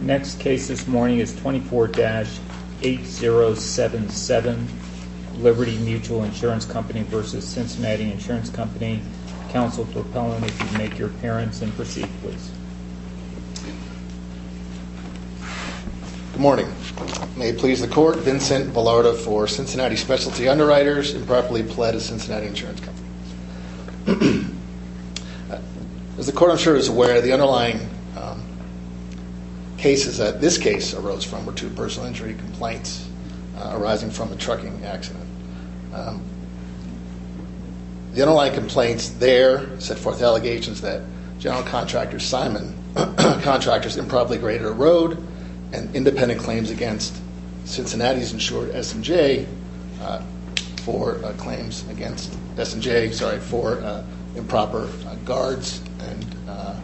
Next case this morning is 24-8077, Liberty Mutual Insurance Company v. Cincinnati Insurance Company. Counsel for Pelham, if you'd make your appearance and proceed, please. Good morning. May it please the court, Vincent Vallarta for Cincinnati Specialty Underwriters, improperly pled as Cincinnati Insurance Company. As the court, I'm sure, is aware, the underlying cases that this case arose from were two personal injury complaints arising from a trucking accident. The underlying complaints there set forth allegations that General Contractor Simon's contractors improperly graded a road and independent claims against Cincinnati's insured S&J for claims against S&J, sorry, for improper guards and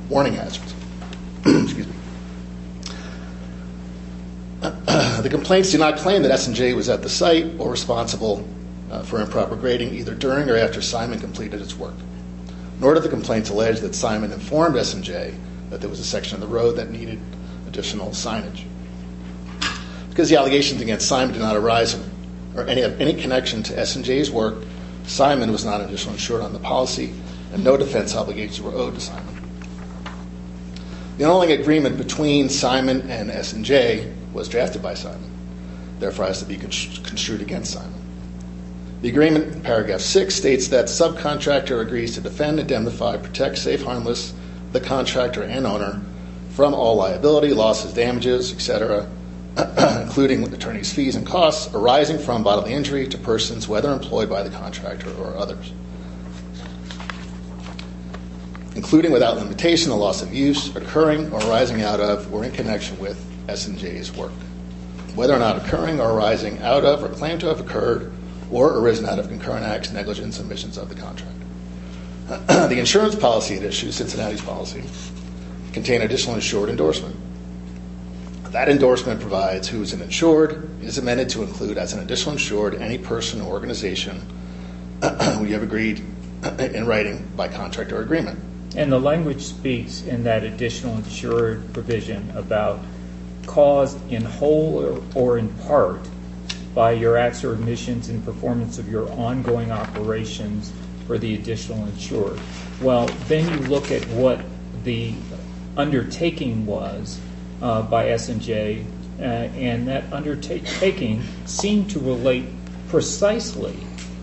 warning hazards. The complaints do not claim that S&J was at the site or responsible for improper grading either during or after Simon completed its work, nor do the complaints allege that Simon informed S&J that there was a section of the road that needed additional signage. Because the allegations against Simon do not arise or have any connection to S&J's work, Simon was not initially insured on the policy and no defense obligations were owed to Simon. The only agreement between Simon and S&J was drafted by Simon, therefore has to be construed against Simon. The agreement in Paragraph 6 states that subcontractor agrees to defend, indemnify, protect, safe, harmless the contractor and owner from all liability, losses, damages, etc., including with attorney's fees and costs arising from bodily injury to persons whether employed by the contractor or others, including without limitation the loss of use occurring or arising out of or in connection with S&J's work. Whether or not occurring or arising out of or claim to have occurred or arisen out of concurrent acts, negligence, and omissions of the contract. The insurance policy at issue, Cincinnati's policy, contain additional insured endorsement. That endorsement provides who is an insured is amended to include as an additional insured any person or organization we have agreed in writing by contract or agreement. And the language speaks in that additional insured provision about cause in whole or in part by your acts or omissions in performance of your ongoing operations for the additional insured. Well, then you look at what the undertaking was by S&J and that undertaking seemed to relate precisely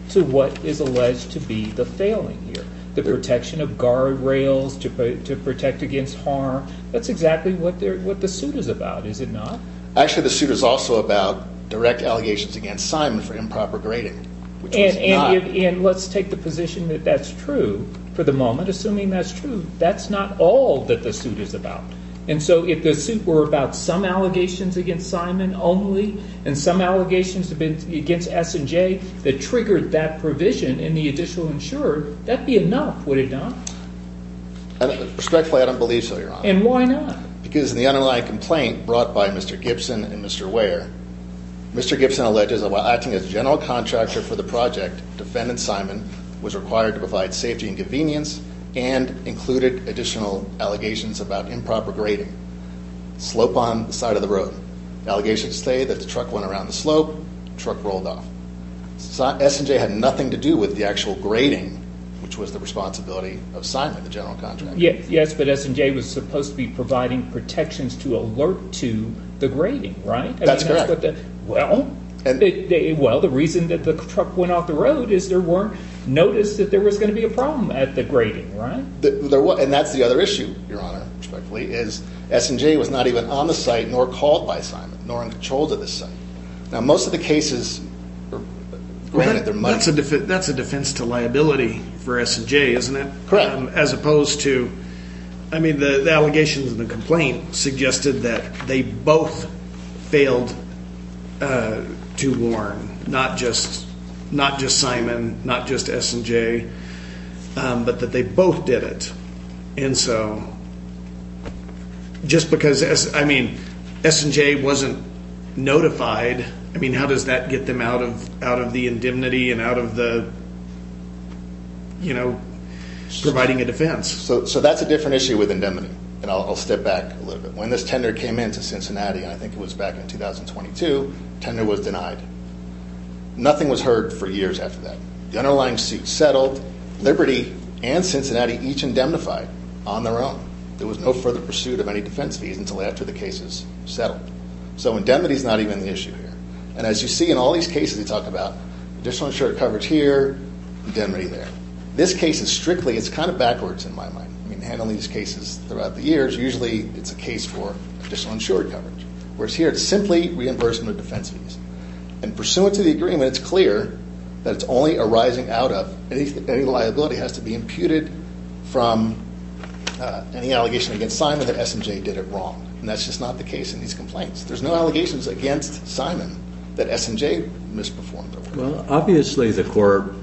to what is alleged to be the failing here. The protection of guardrails to protect against harm. That's exactly what the suit is about, is it not? Actually, the suit is also about direct allegations against Simon for improper grading. And let's take the position that that's true for the moment. Assuming that's true, that's not all that the suit is about. And so if the suit were about some allegations against Simon only and some allegations against S&J that triggered that provision in the additional insured, that would be enough, would it not? Respectfully, I don't believe so, Your Honor. And why not? Because the underlying complaint brought by Mr. Gibson and Mr. Ware, Mr. Gibson alleges that while acting as general contractor for the project, defendant Simon was required to provide safety and convenience and included additional allegations about improper grading. Slope on the side of the road. Allegations say that the truck went around the slope, truck rolled off. S&J had nothing to do with the actual grading, which was the responsibility of Simon, the general contractor. Yes, but S&J was supposed to be providing protections to alert to the grading, right? That's correct. Well, the reason that the truck went off the road is there weren't notices that there was going to be a problem at the grading, right? And that's the other issue, Your Honor, respectfully, is S&J was not even on the site nor called by Simon, nor in control of the site. Now, most of the cases… That's a defense to liability for S&J, isn't it? Correct. As opposed to, I mean, the allegations and the complaint suggested that they both failed to warn, not just Simon, not just S&J, but that they both did it. And so just because, I mean, S&J wasn't notified, I mean, how does that get them out of the indemnity and out of the, you know, providing a defense? So that's a different issue with indemnity, and I'll step back a little bit. When this tender came in to Cincinnati, I think it was back in 2022, tender was denied. Nothing was heard for years after that. The underlying suit settled, Liberty and Cincinnati each indemnified on their own. There was no further pursuit of any defense fees until after the cases settled. So indemnity is not even the issue here. And as you see in all these cases we talk about, additional insured coverage here, indemnity there. This case is strictly, it's kind of backwards in my mind. I mean, handling these cases throughout the years, usually it's a case for additional insured coverage. Whereas here, it's simply reimbursement of defense fees. And pursuant to the agreement, it's clear that it's only arising out of, any liability has to be imputed from any allegation against Simon that S&J did it wrong. And that's just not the case in these complaints. There's no allegations against Simon that S&J misperformed. Well, obviously the court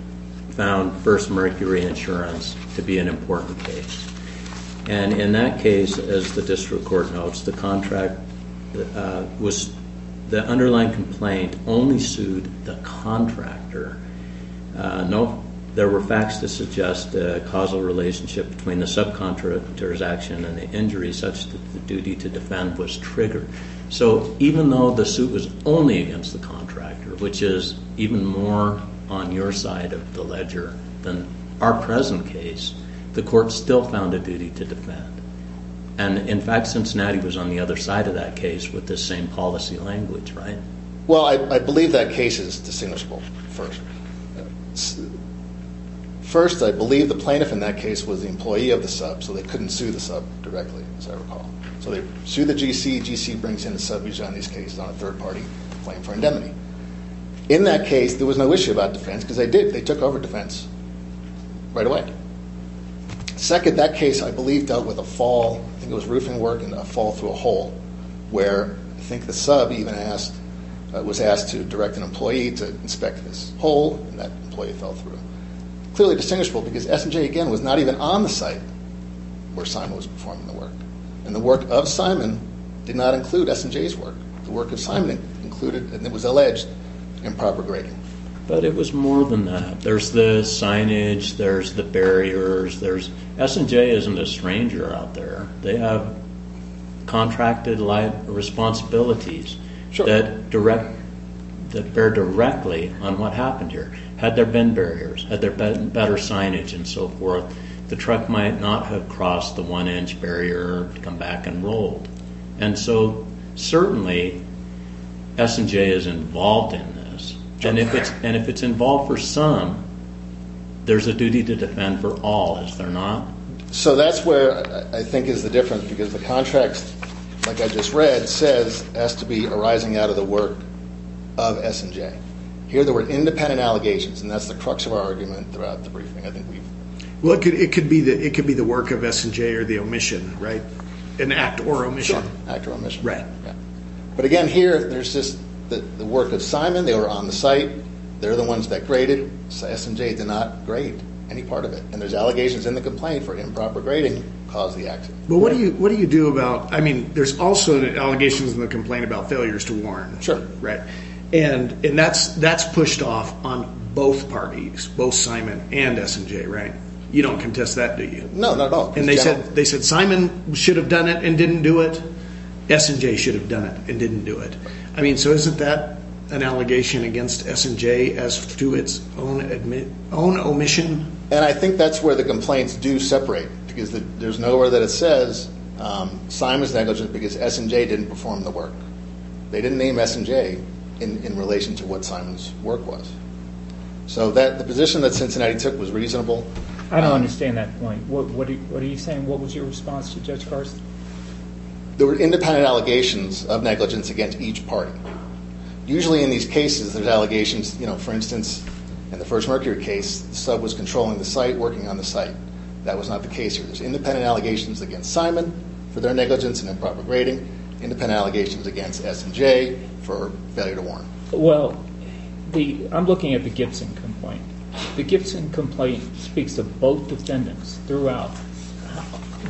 found first mercury insurance to be an important case. And in that case, as the district court notes, the contract was, the underlying complaint only sued the contractor. No, there were facts to suggest a causal relationship between the subcontractor's action and the injuries such that the duty to defend was triggered. So even though the suit was only against the contractor, which is even more on your side of the ledger than our present case, the court still found a duty to defend. And in fact, Cincinnati was on the other side of that case with this same policy language, right? Well, I believe that case is distinguishable. First, I believe the plaintiff in that case was the employee of the sub, so they couldn't sue the sub directly, as I recall. So they sued the GC. GC brings in a sub usually on these cases on a third-party claim for indemnity. In that case, there was no issue about defense because they did. They took over defense right away. Second, that case, I believe, dealt with a fall. I think it was roofing work and a fall through a hole where I think the sub even asked, was asked to direct an employee to inspect this hole, and that employee fell through. Clearly distinguishable because S&J, again, was not even on the site where Simon was performing the work. And the work of Simon did not include S&J's work. The work of Simon included, and it was alleged, improper grading. But it was more than that. There's the signage, there's the barriers, there's... S&J isn't a stranger out there. They have contracted life responsibilities that direct, that bear directly on what happened here. Had there been barriers, had there been better signage and so forth, the truck might not have crossed the one-inch barrier or come back and rolled. And so, certainly, S&J is involved in this. And if it's involved for some, there's a duty to defend for all, is there not? So that's where I think is the difference, because the contract, like I just read, says it has to be arising out of the work of S&J. Here there were independent allegations, and that's the crux of our argument throughout the briefing. I think we've... Well, it could be the work of S&J or the omission, right? An act or omission. An act or omission. Right. But again, here, there's just the work of Simon. They were on the site. They're the ones that graded. S&J did not grade any part of it. And there's allegations in the complaint for improper grading caused the accident. But what do you do about... I mean, there's also allegations in the complaint about failures to warn. Sure. Right? And that's pushed off on both parties, both Simon and S&J, right? You don't contest that, do you? No, not at all. And they said Simon should have done it and didn't do it. S&J should have done it and didn't do it. I mean, so isn't that an allegation against S&J as to its own omission? And I think that's where the complaints do separate because there's nowhere that it says Simon's negligent because S&J didn't perform the work. They didn't name S&J in relation to what Simon's work was. So the position that Cincinnati took was reasonable. I don't understand that point. What are you saying? What was your response to Judge Carson? There were independent allegations of negligence against each party. Usually in these cases, there's allegations. You know, for instance, in the first Mercury case, the sub was controlling the site, working on the site. That was not the case here. There's independent allegations against Simon for their negligence and improper grading, independent allegations against S&J for failure to warn. Well, I'm looking at the Gibson complaint. The Gibson complaint speaks to both defendants throughout.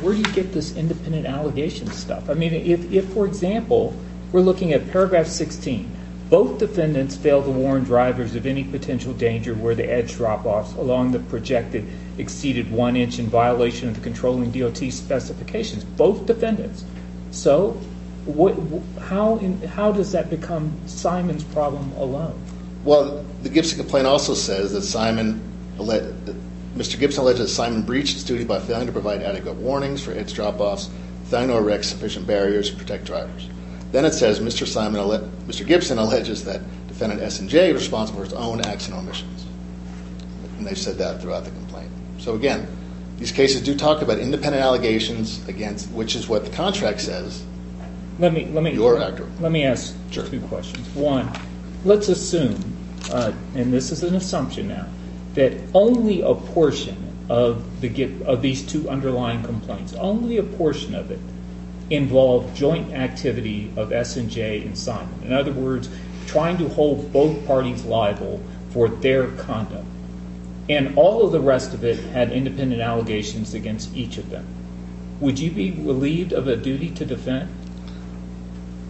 Where do you get this independent allegation stuff? I mean, if, for example, we're looking at paragraph 16, both defendants failed to warn drivers of any potential danger where the edge drop-offs along the projected exceeded one inch in violation of the controlling DOT specifications. Both defendants. So how does that become Simon's problem alone? Well, the Gibson complaint also says that Mr. Gibson alleged that Simon breached his duty by failing to provide adequate warnings for edge drop-offs, failing to erect sufficient barriers to protect drivers. Then it says Mr. Gibson alleges that defendant S&J is responsible for its own acts and omissions. And they've said that throughout the complaint. So, again, these cases do talk about independent allegations against, which is what the contract says, your actor. Let me ask two questions. One, let's assume, and this is an assumption now, that only a portion of these two underlying complaints, only a portion of it involved joint activity of S&J and Simon. In other words, trying to hold both parties liable for their conduct. And all of the rest of it had independent allegations against each of them. Would you be relieved of a duty to defend?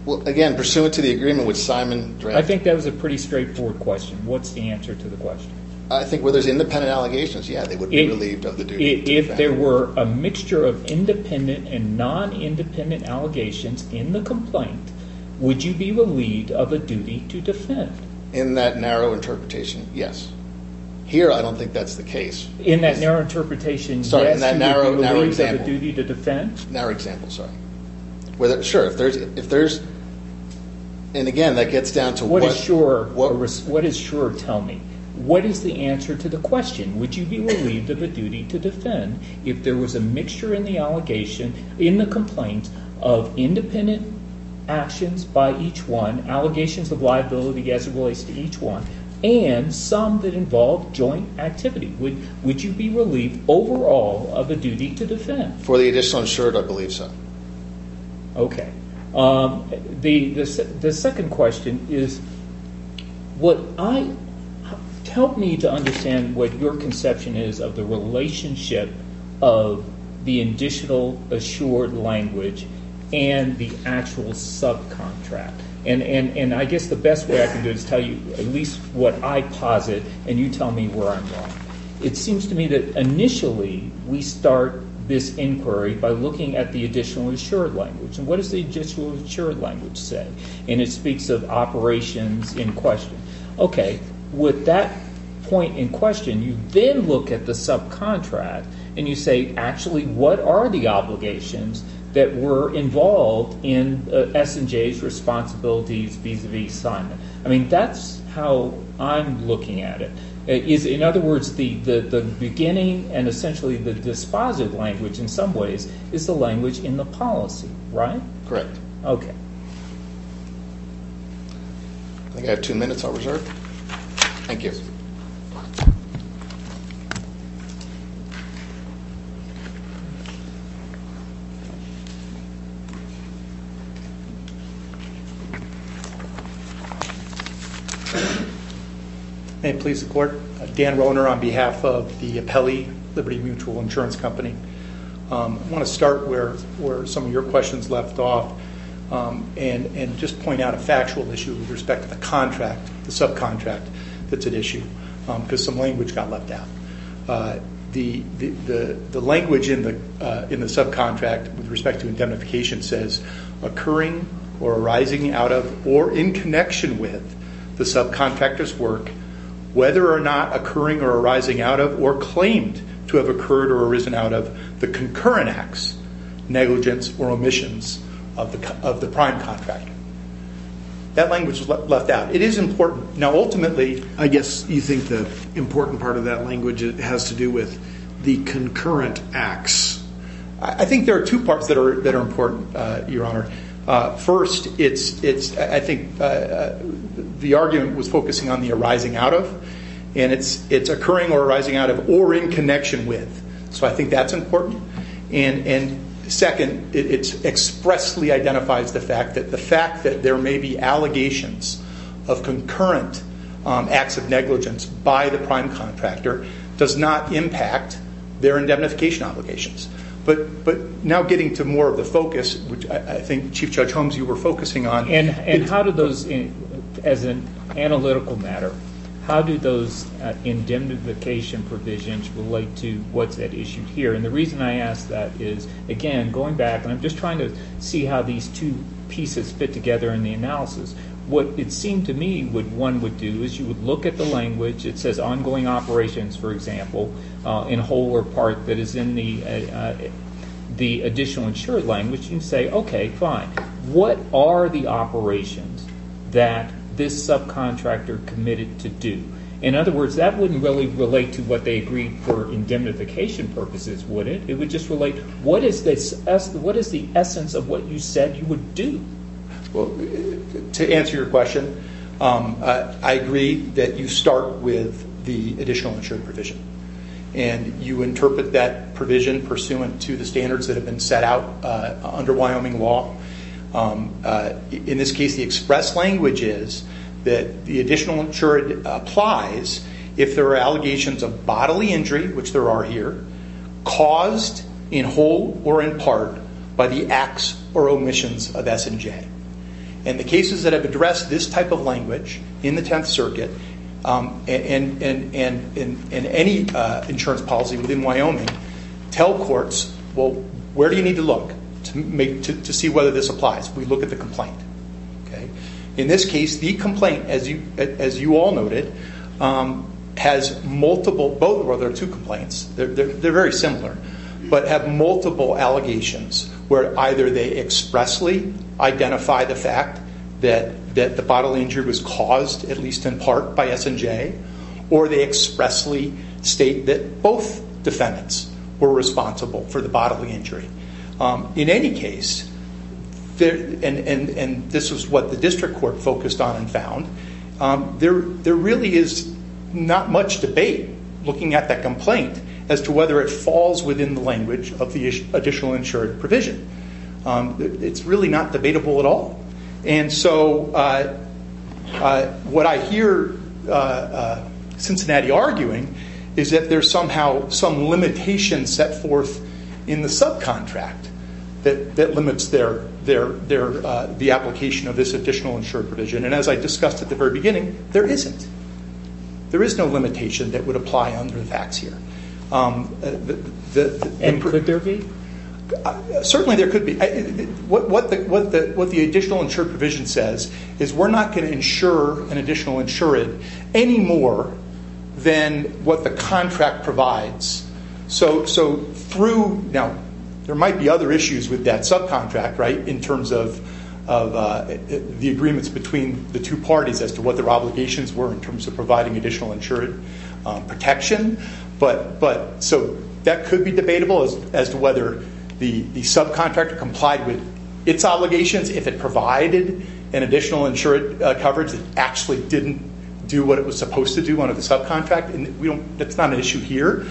Well, again, pursuant to the agreement which Simon drafted. I think that was a pretty straightforward question. What's the answer to the question? I think where there's independent allegations, yeah, they would be relieved of the duty to defend. If there were a mixture of independent and non-independent allegations in the complaint, would you be relieved of a duty to defend? In that narrow interpretation, yes. Here, I don't think that's the case. In that narrow interpretation, yes, you would be relieved of a duty to defend? Narrow example, sorry. Sure, if there's – and again, that gets down to what – What does sure tell me? What is the answer to the question? Would you be relieved of a duty to defend if there was a mixture in the allegation, in the complaint, of independent actions by each one, allegations of liability as it relates to each one, and some that involved joint activity? Would you be relieved overall of a duty to defend? For the additional assured, I believe so. Okay. The second question is what I – help me to understand what your conception is of the relationship of the additional assured language and the actual subcontract. And I guess the best way I can do it is tell you at least what I posit and you tell me where I'm wrong. It seems to me that initially we start this inquiry by looking at the additional assured language. And what does the additional assured language say? And it speaks of operations in question. Okay. With that point in question, you then look at the subcontract and you say, actually, what are the obligations that were involved in S&J's responsibilities vis-à-vis Simon? I mean, that's how I'm looking at it. In other words, the beginning and essentially the dispositive language in some ways is the language in the policy, right? Correct. Okay. I think I have two minutes I'll reserve. Thank you. Please. May it please the Court. Dan Rohner on behalf of the Apelli Liberty Mutual Insurance Company. I want to start where some of your questions left off and just point out a factual issue with respect to the contract, the subcontract that's at issue, because some language got left out. The language in the subcontract with respect to indemnification says, occurring or arising out of or in connection with the subcontractor's work, whether or not occurring or arising out of or claimed to have occurred or arisen out of the concurrent acts, negligence, or omissions of the prime contract. That language was left out. It is important. Now, ultimately, I guess you think the important part of that language has to do with the concurrent acts. I think there are two parts that are important, Your Honor. First, I think the argument was focusing on the arising out of, and it's occurring or arising out of or in connection with. So I think that's important. Second, it expressly identifies the fact that there may be allegations of concurrent acts of negligence by the prime contractor does not impact their indemnification obligations. But now getting to more of the focus, which I think Chief Judge Holmes, you were focusing on. And how do those, as an analytical matter, how do those indemnification provisions relate to what's at issue here? And the reason I ask that is, again, going back, and I'm just trying to see how these two pieces fit together in the analysis. What it seemed to me what one would do is you would look at the language. It says ongoing operations, for example, in whole or part that is in the additional insured language. You say, okay, fine. What are the operations that this subcontractor committed to do? In other words, that wouldn't really relate to what they agreed for indemnification purposes, would it? It would just relate, what is the essence of what you said you would do? Well, to answer your question, I agree that you start with the additional insured provision. And you interpret that provision pursuant to the standards that have been set out under Wyoming law. In this case, the express language is that the additional insured applies if there are allegations of bodily injury, which there are here, caused in whole or in part by the acts or omissions of S&J. And the cases that have addressed this type of language in the Tenth Circuit and in any insurance policy within Wyoming tell courts, well, where do you need to look to see whether this applies? We look at the complaint. In this case, the complaint, as you all noted, has multiple, well, there are two complaints. They're very similar, but have multiple allegations where either they expressly identify the fact that the bodily injury was caused, at least in part, by S&J, or they expressly state that both defendants were responsible for the bodily injury. In any case, and this is what the district court focused on and found, there really is not much debate looking at that complaint as to whether it falls within the language of the additional insured provision. It's really not debatable at all. And so what I hear Cincinnati arguing is that there's somehow some limitation set forth in the subcontract that limits the application of this additional insured provision. And as I discussed at the very beginning, there isn't. There is no limitation that would apply under the facts here. And could there be? Certainly there could be. What the additional insured provision says is we're not going to insure an additional insured any more than what the contract provides. Now, there might be other issues with that subcontract in terms of the agreements between the two parties as to what their obligations were in terms of providing additional insured protection. So that could be debatable as to whether the subcontract complied with its obligations. If it provided an additional insured coverage that actually didn't do what it was supposed to do under the subcontract. And that's not an issue here.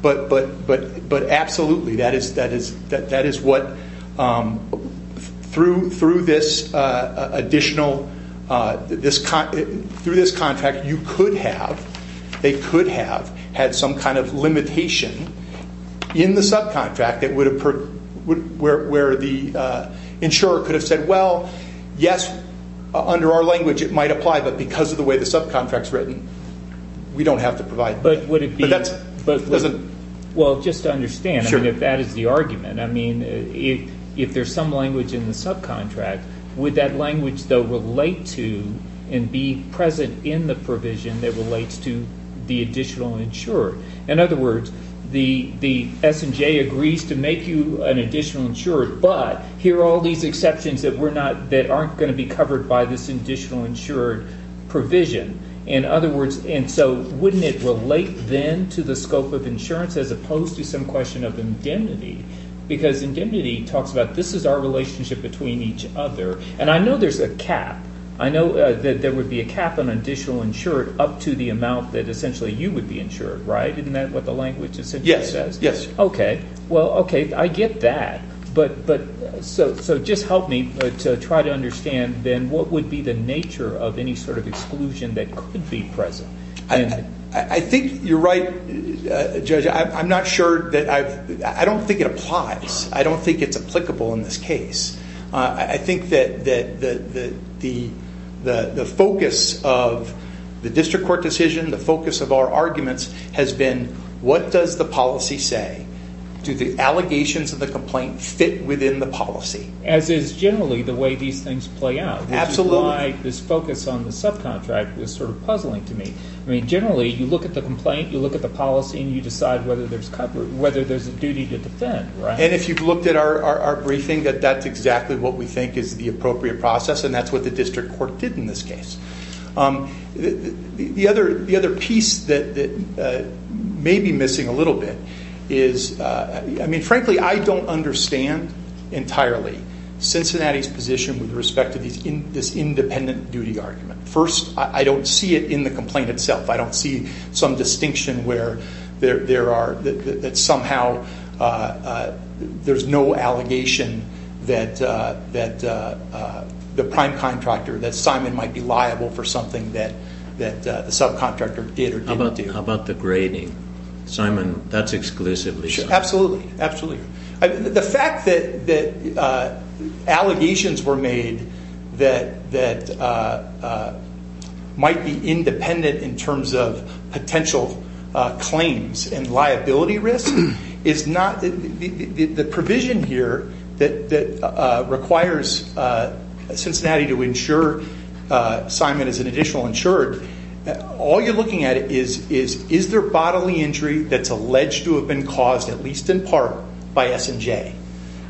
But absolutely, that is what, through this additional, through this contract, you could have, they could have had some kind of limitation in the subcontract where the insurer could have said, well, yes, under our language it might apply, but because of the way the subcontract's written, we don't have to provide that. But would it be? Well, just to understand, if that is the argument, I mean, if there's some language in the subcontract, would that language, though, relate to and be present in the provision that relates to the additional insured? In other words, the S&J agrees to make you an additional insured, but here are all these exceptions that aren't going to be covered by this additional insured provision. In other words, and so wouldn't it relate then to the scope of insurance as opposed to some question of indemnity? Because indemnity talks about this is our relationship between each other. And I know there's a cap. I know that there would be a cap on additional insured up to the amount that essentially you would be insured, right? Isn't that what the language essentially says? Yes, yes. Okay. Well, okay, I get that. But so just help me to try to understand then what would be the nature of any sort of exclusion that could be present? I think you're right, Judge. I'm not sure that I've – I don't think it applies. I don't think it's applicable in this case. I think that the focus of the district court decision, the focus of our arguments, has been what does the policy say? Do the allegations of the complaint fit within the policy? As is generally the way these things play out. Which is why this focus on the subcontract is sort of puzzling to me. I mean generally you look at the complaint, you look at the policy, and you decide whether there's a duty to defend, right? And if you've looked at our briefing, that's exactly what we think is the appropriate process, and that's what the district court did in this case. The other piece that may be missing a little bit is – I mean frankly I don't understand entirely Cincinnati's position with respect to this independent duty argument. First, I don't see it in the complaint itself. I don't see some distinction where there are – that somehow there's no allegation that the prime contractor, that Simon might be liable for something that the subcontractor did or didn't do. How about the grading? Simon, that's exclusively you. Absolutely, absolutely. The fact that allegations were made that might be independent in terms of potential claims and liability risk is not – The provision here that requires Cincinnati to insure Simon as an additional insured, all you're looking at is, is there bodily injury that's alleged to have been caused, at least in part, by S&J?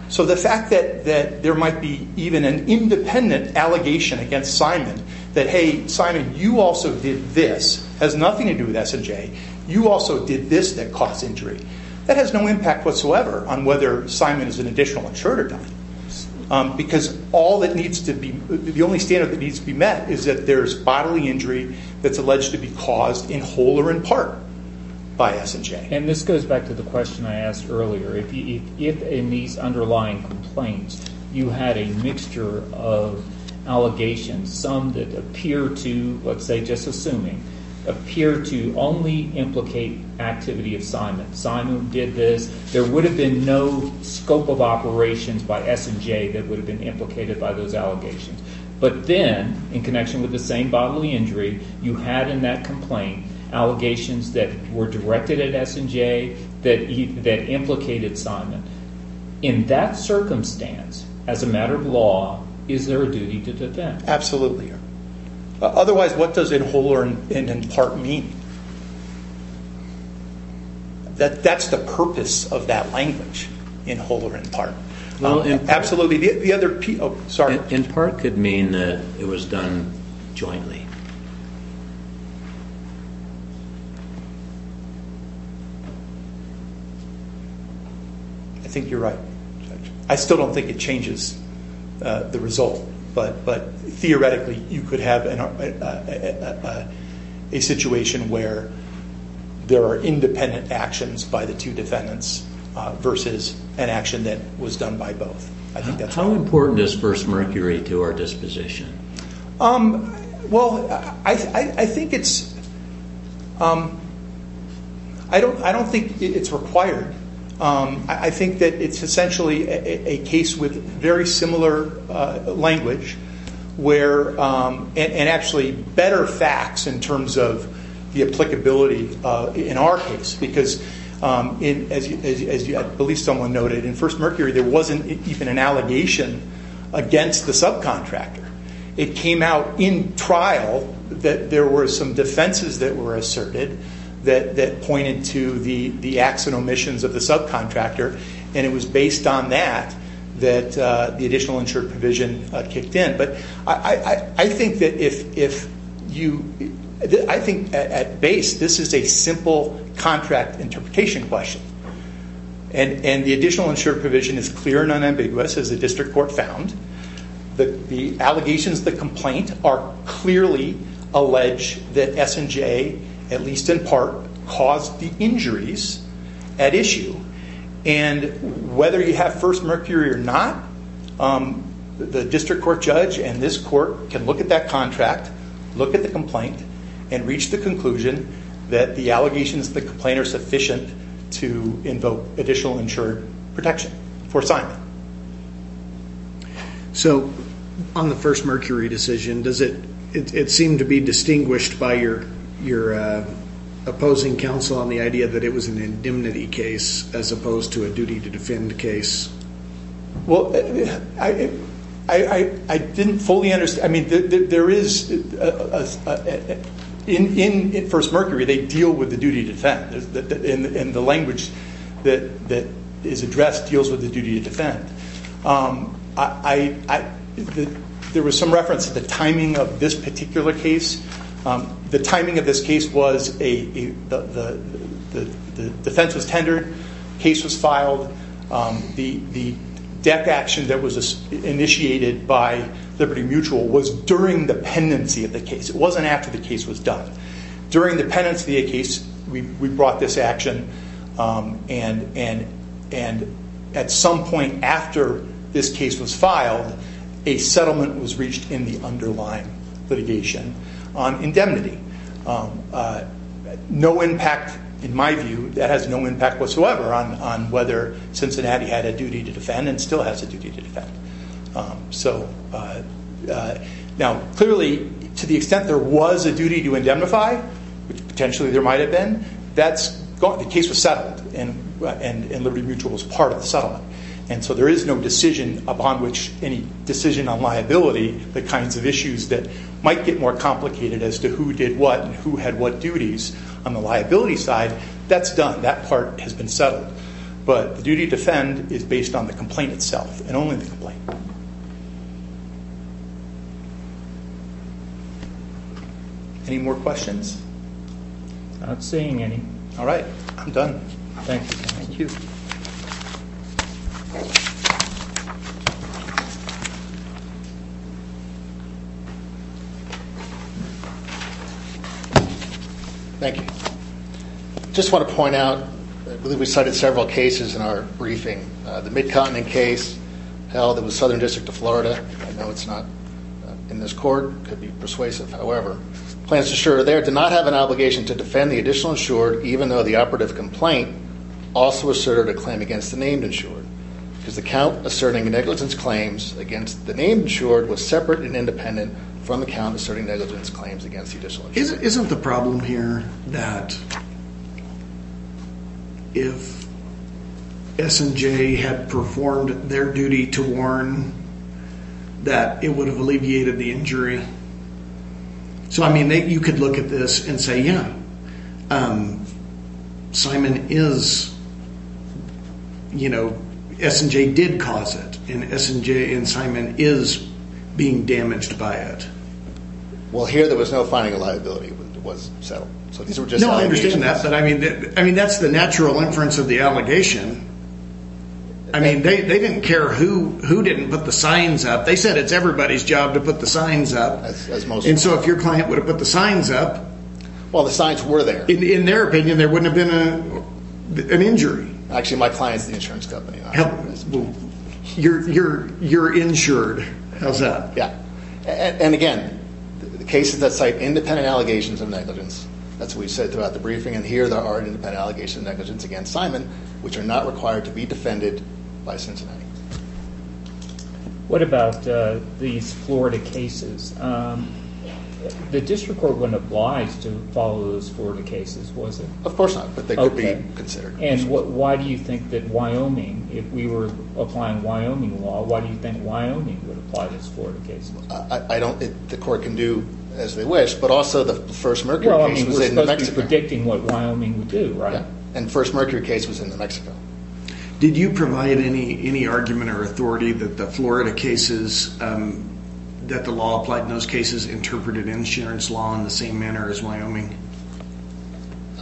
So the fact that there might be even an independent allegation against Simon that, hey, Simon, you also did this, has nothing to do with S&J, you also did this that caused injury. That has no impact whatsoever on whether Simon is an additional insured or not. Because all that needs to be – the only standard that needs to be met is that there's bodily injury that's alleged to be caused in whole or in part by S&J. And this goes back to the question I asked earlier. If in these underlying complaints you had a mixture of allegations, some that appear to – let's say, just assuming – appear to only implicate activity of Simon. Simon did this. There would have been no scope of operations by S&J that would have been implicated by those allegations. But then, in connection with the same bodily injury, you had in that complaint allegations that were directed at S&J that implicated Simon. In that circumstance, as a matter of law, is there a duty to defend? Absolutely. Otherwise, what does in whole or in part mean? That's the purpose of that language, in whole or in part. In part could mean that it was done jointly. I think you're right. I still don't think it changes the result. Theoretically, you could have a situation where there are independent actions by the two defendants versus an action that was done by both. How important is First Mercury to our disposition? I don't think it's required. I think that it's essentially a case with very similar language and actually better facts in terms of the applicability in our case. Because, as at least someone noted, in First Mercury, there wasn't even an allegation against the subcontractor. It came out in trial that there were some defenses that were asserted that pointed to the acts and omissions of the subcontractor. And it was based on that that the additional insured provision kicked in. I think, at base, this is a simple contract interpretation question. And the additional insured provision is clear and unambiguous, as the district court found. The allegations of the complaint are clearly alleged that S&J, at least in part, caused the injuries at issue. And whether you have First Mercury or not, the district court judge and this court can look at that contract, look at the complaint, and reach the conclusion that the allegations of the complaint are sufficient to invoke additional insured protection for assignment. So, on the First Mercury decision, does it seem to be distinguished by your opposing counsel on the idea that it was an indemnity case as opposed to a duty to defend case? Well, I didn't fully understand. I mean, there is, in First Mercury, they deal with the duty to defend. And the language that is addressed deals with the duty to defend. There was some reference to the timing of this particular case. The timing of this case was the defense was tendered, the case was filed. The death action that was initiated by Liberty Mutual was during the pendency of the case. It wasn't after the case was done. During the pendency of the case, we brought this action. And at some point after this case was filed, a settlement was reached in the underlying litigation on indemnity. No impact, in my view, that has no impact whatsoever on whether Cincinnati had a duty to defend and still has a duty to defend. Now, clearly, to the extent there was a duty to indemnify, which potentially there might have been, the case was settled, and Liberty Mutual was part of the settlement. And so there is no decision upon which any decision on liability, the kinds of issues that might get more complicated as to who did what and who had what duties on the liability side, that's done. That part has been settled. But the duty to defend is based on the complaint itself and only the complaint. Any more questions? Not seeing any. All right, I'm done. Thank you. Thank you. Thank you. Just want to point out, I believe we cited several cases in our briefing. The Mid-Continent case held in the Southern District of Florida, I know it's not in this court, could be persuasive. However, the plaintiff's insurer there did not have an obligation to defend the additional insured, even though the operative complaint also asserted a claim against the named insured. Because the count asserting negligence claims against the named insured was separate and independent from the count asserting negligence claims against the additional insured. Isn't the problem here that if S&J had performed their duty to warn that it would have alleviated the injury? So, I mean, you could look at this and say, yeah, Simon is, you know, S&J did cause it and S&J and Simon is being damaged by it. Well, here there was no finding of liability. It was settled. No, I understand that, but I mean, that's the natural inference of the allegation. I mean, they didn't care who didn't put the signs up. They said it's everybody's job to put the signs up. And so if your client would have put the signs up. Well, the signs were there. In their opinion, there wouldn't have been an injury. Actually, my client is the insurance company. You're insured. How's that? Yeah. And again, the cases that cite independent allegations of negligence. That's what we said throughout the briefing. And here there are independent allegations of negligence against Simon, which are not required to be defended by Cincinnati. What about these Florida cases? The district court wouldn't oblige to follow those Florida cases, was it? Of course not, but they could be considered. And why do you think that Wyoming, if we were applying Wyoming law, why do you think Wyoming would apply this Florida case? The court can do as they wish, but also the first Mercury case was in New Mexico. Well, I mean, we're supposed to be predicting what Wyoming would do, right? Yeah, and the first Mercury case was in New Mexico. Did you provide any argument or authority that the Florida cases, that the law applied in those cases, interpreted insurance law in the same manner as Wyoming?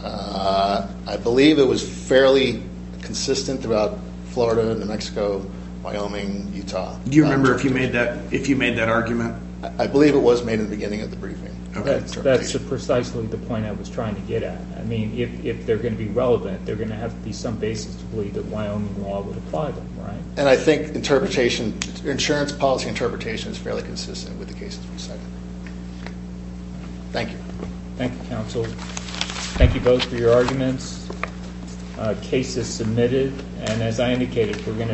I believe it was fairly consistent throughout Florida, New Mexico, Wyoming, Utah. Do you remember if you made that argument? I believe it was made in the beginning of the briefing. That's precisely the point I was trying to get at. I mean, if they're going to be relevant, they're going to have to be some basis to believe that Wyoming law would apply them, right? And I think insurance policy interpretation is fairly consistent with the cases we cited. Thank you. Thank you, counsel. Thank you both for your arguments. Case is submitted.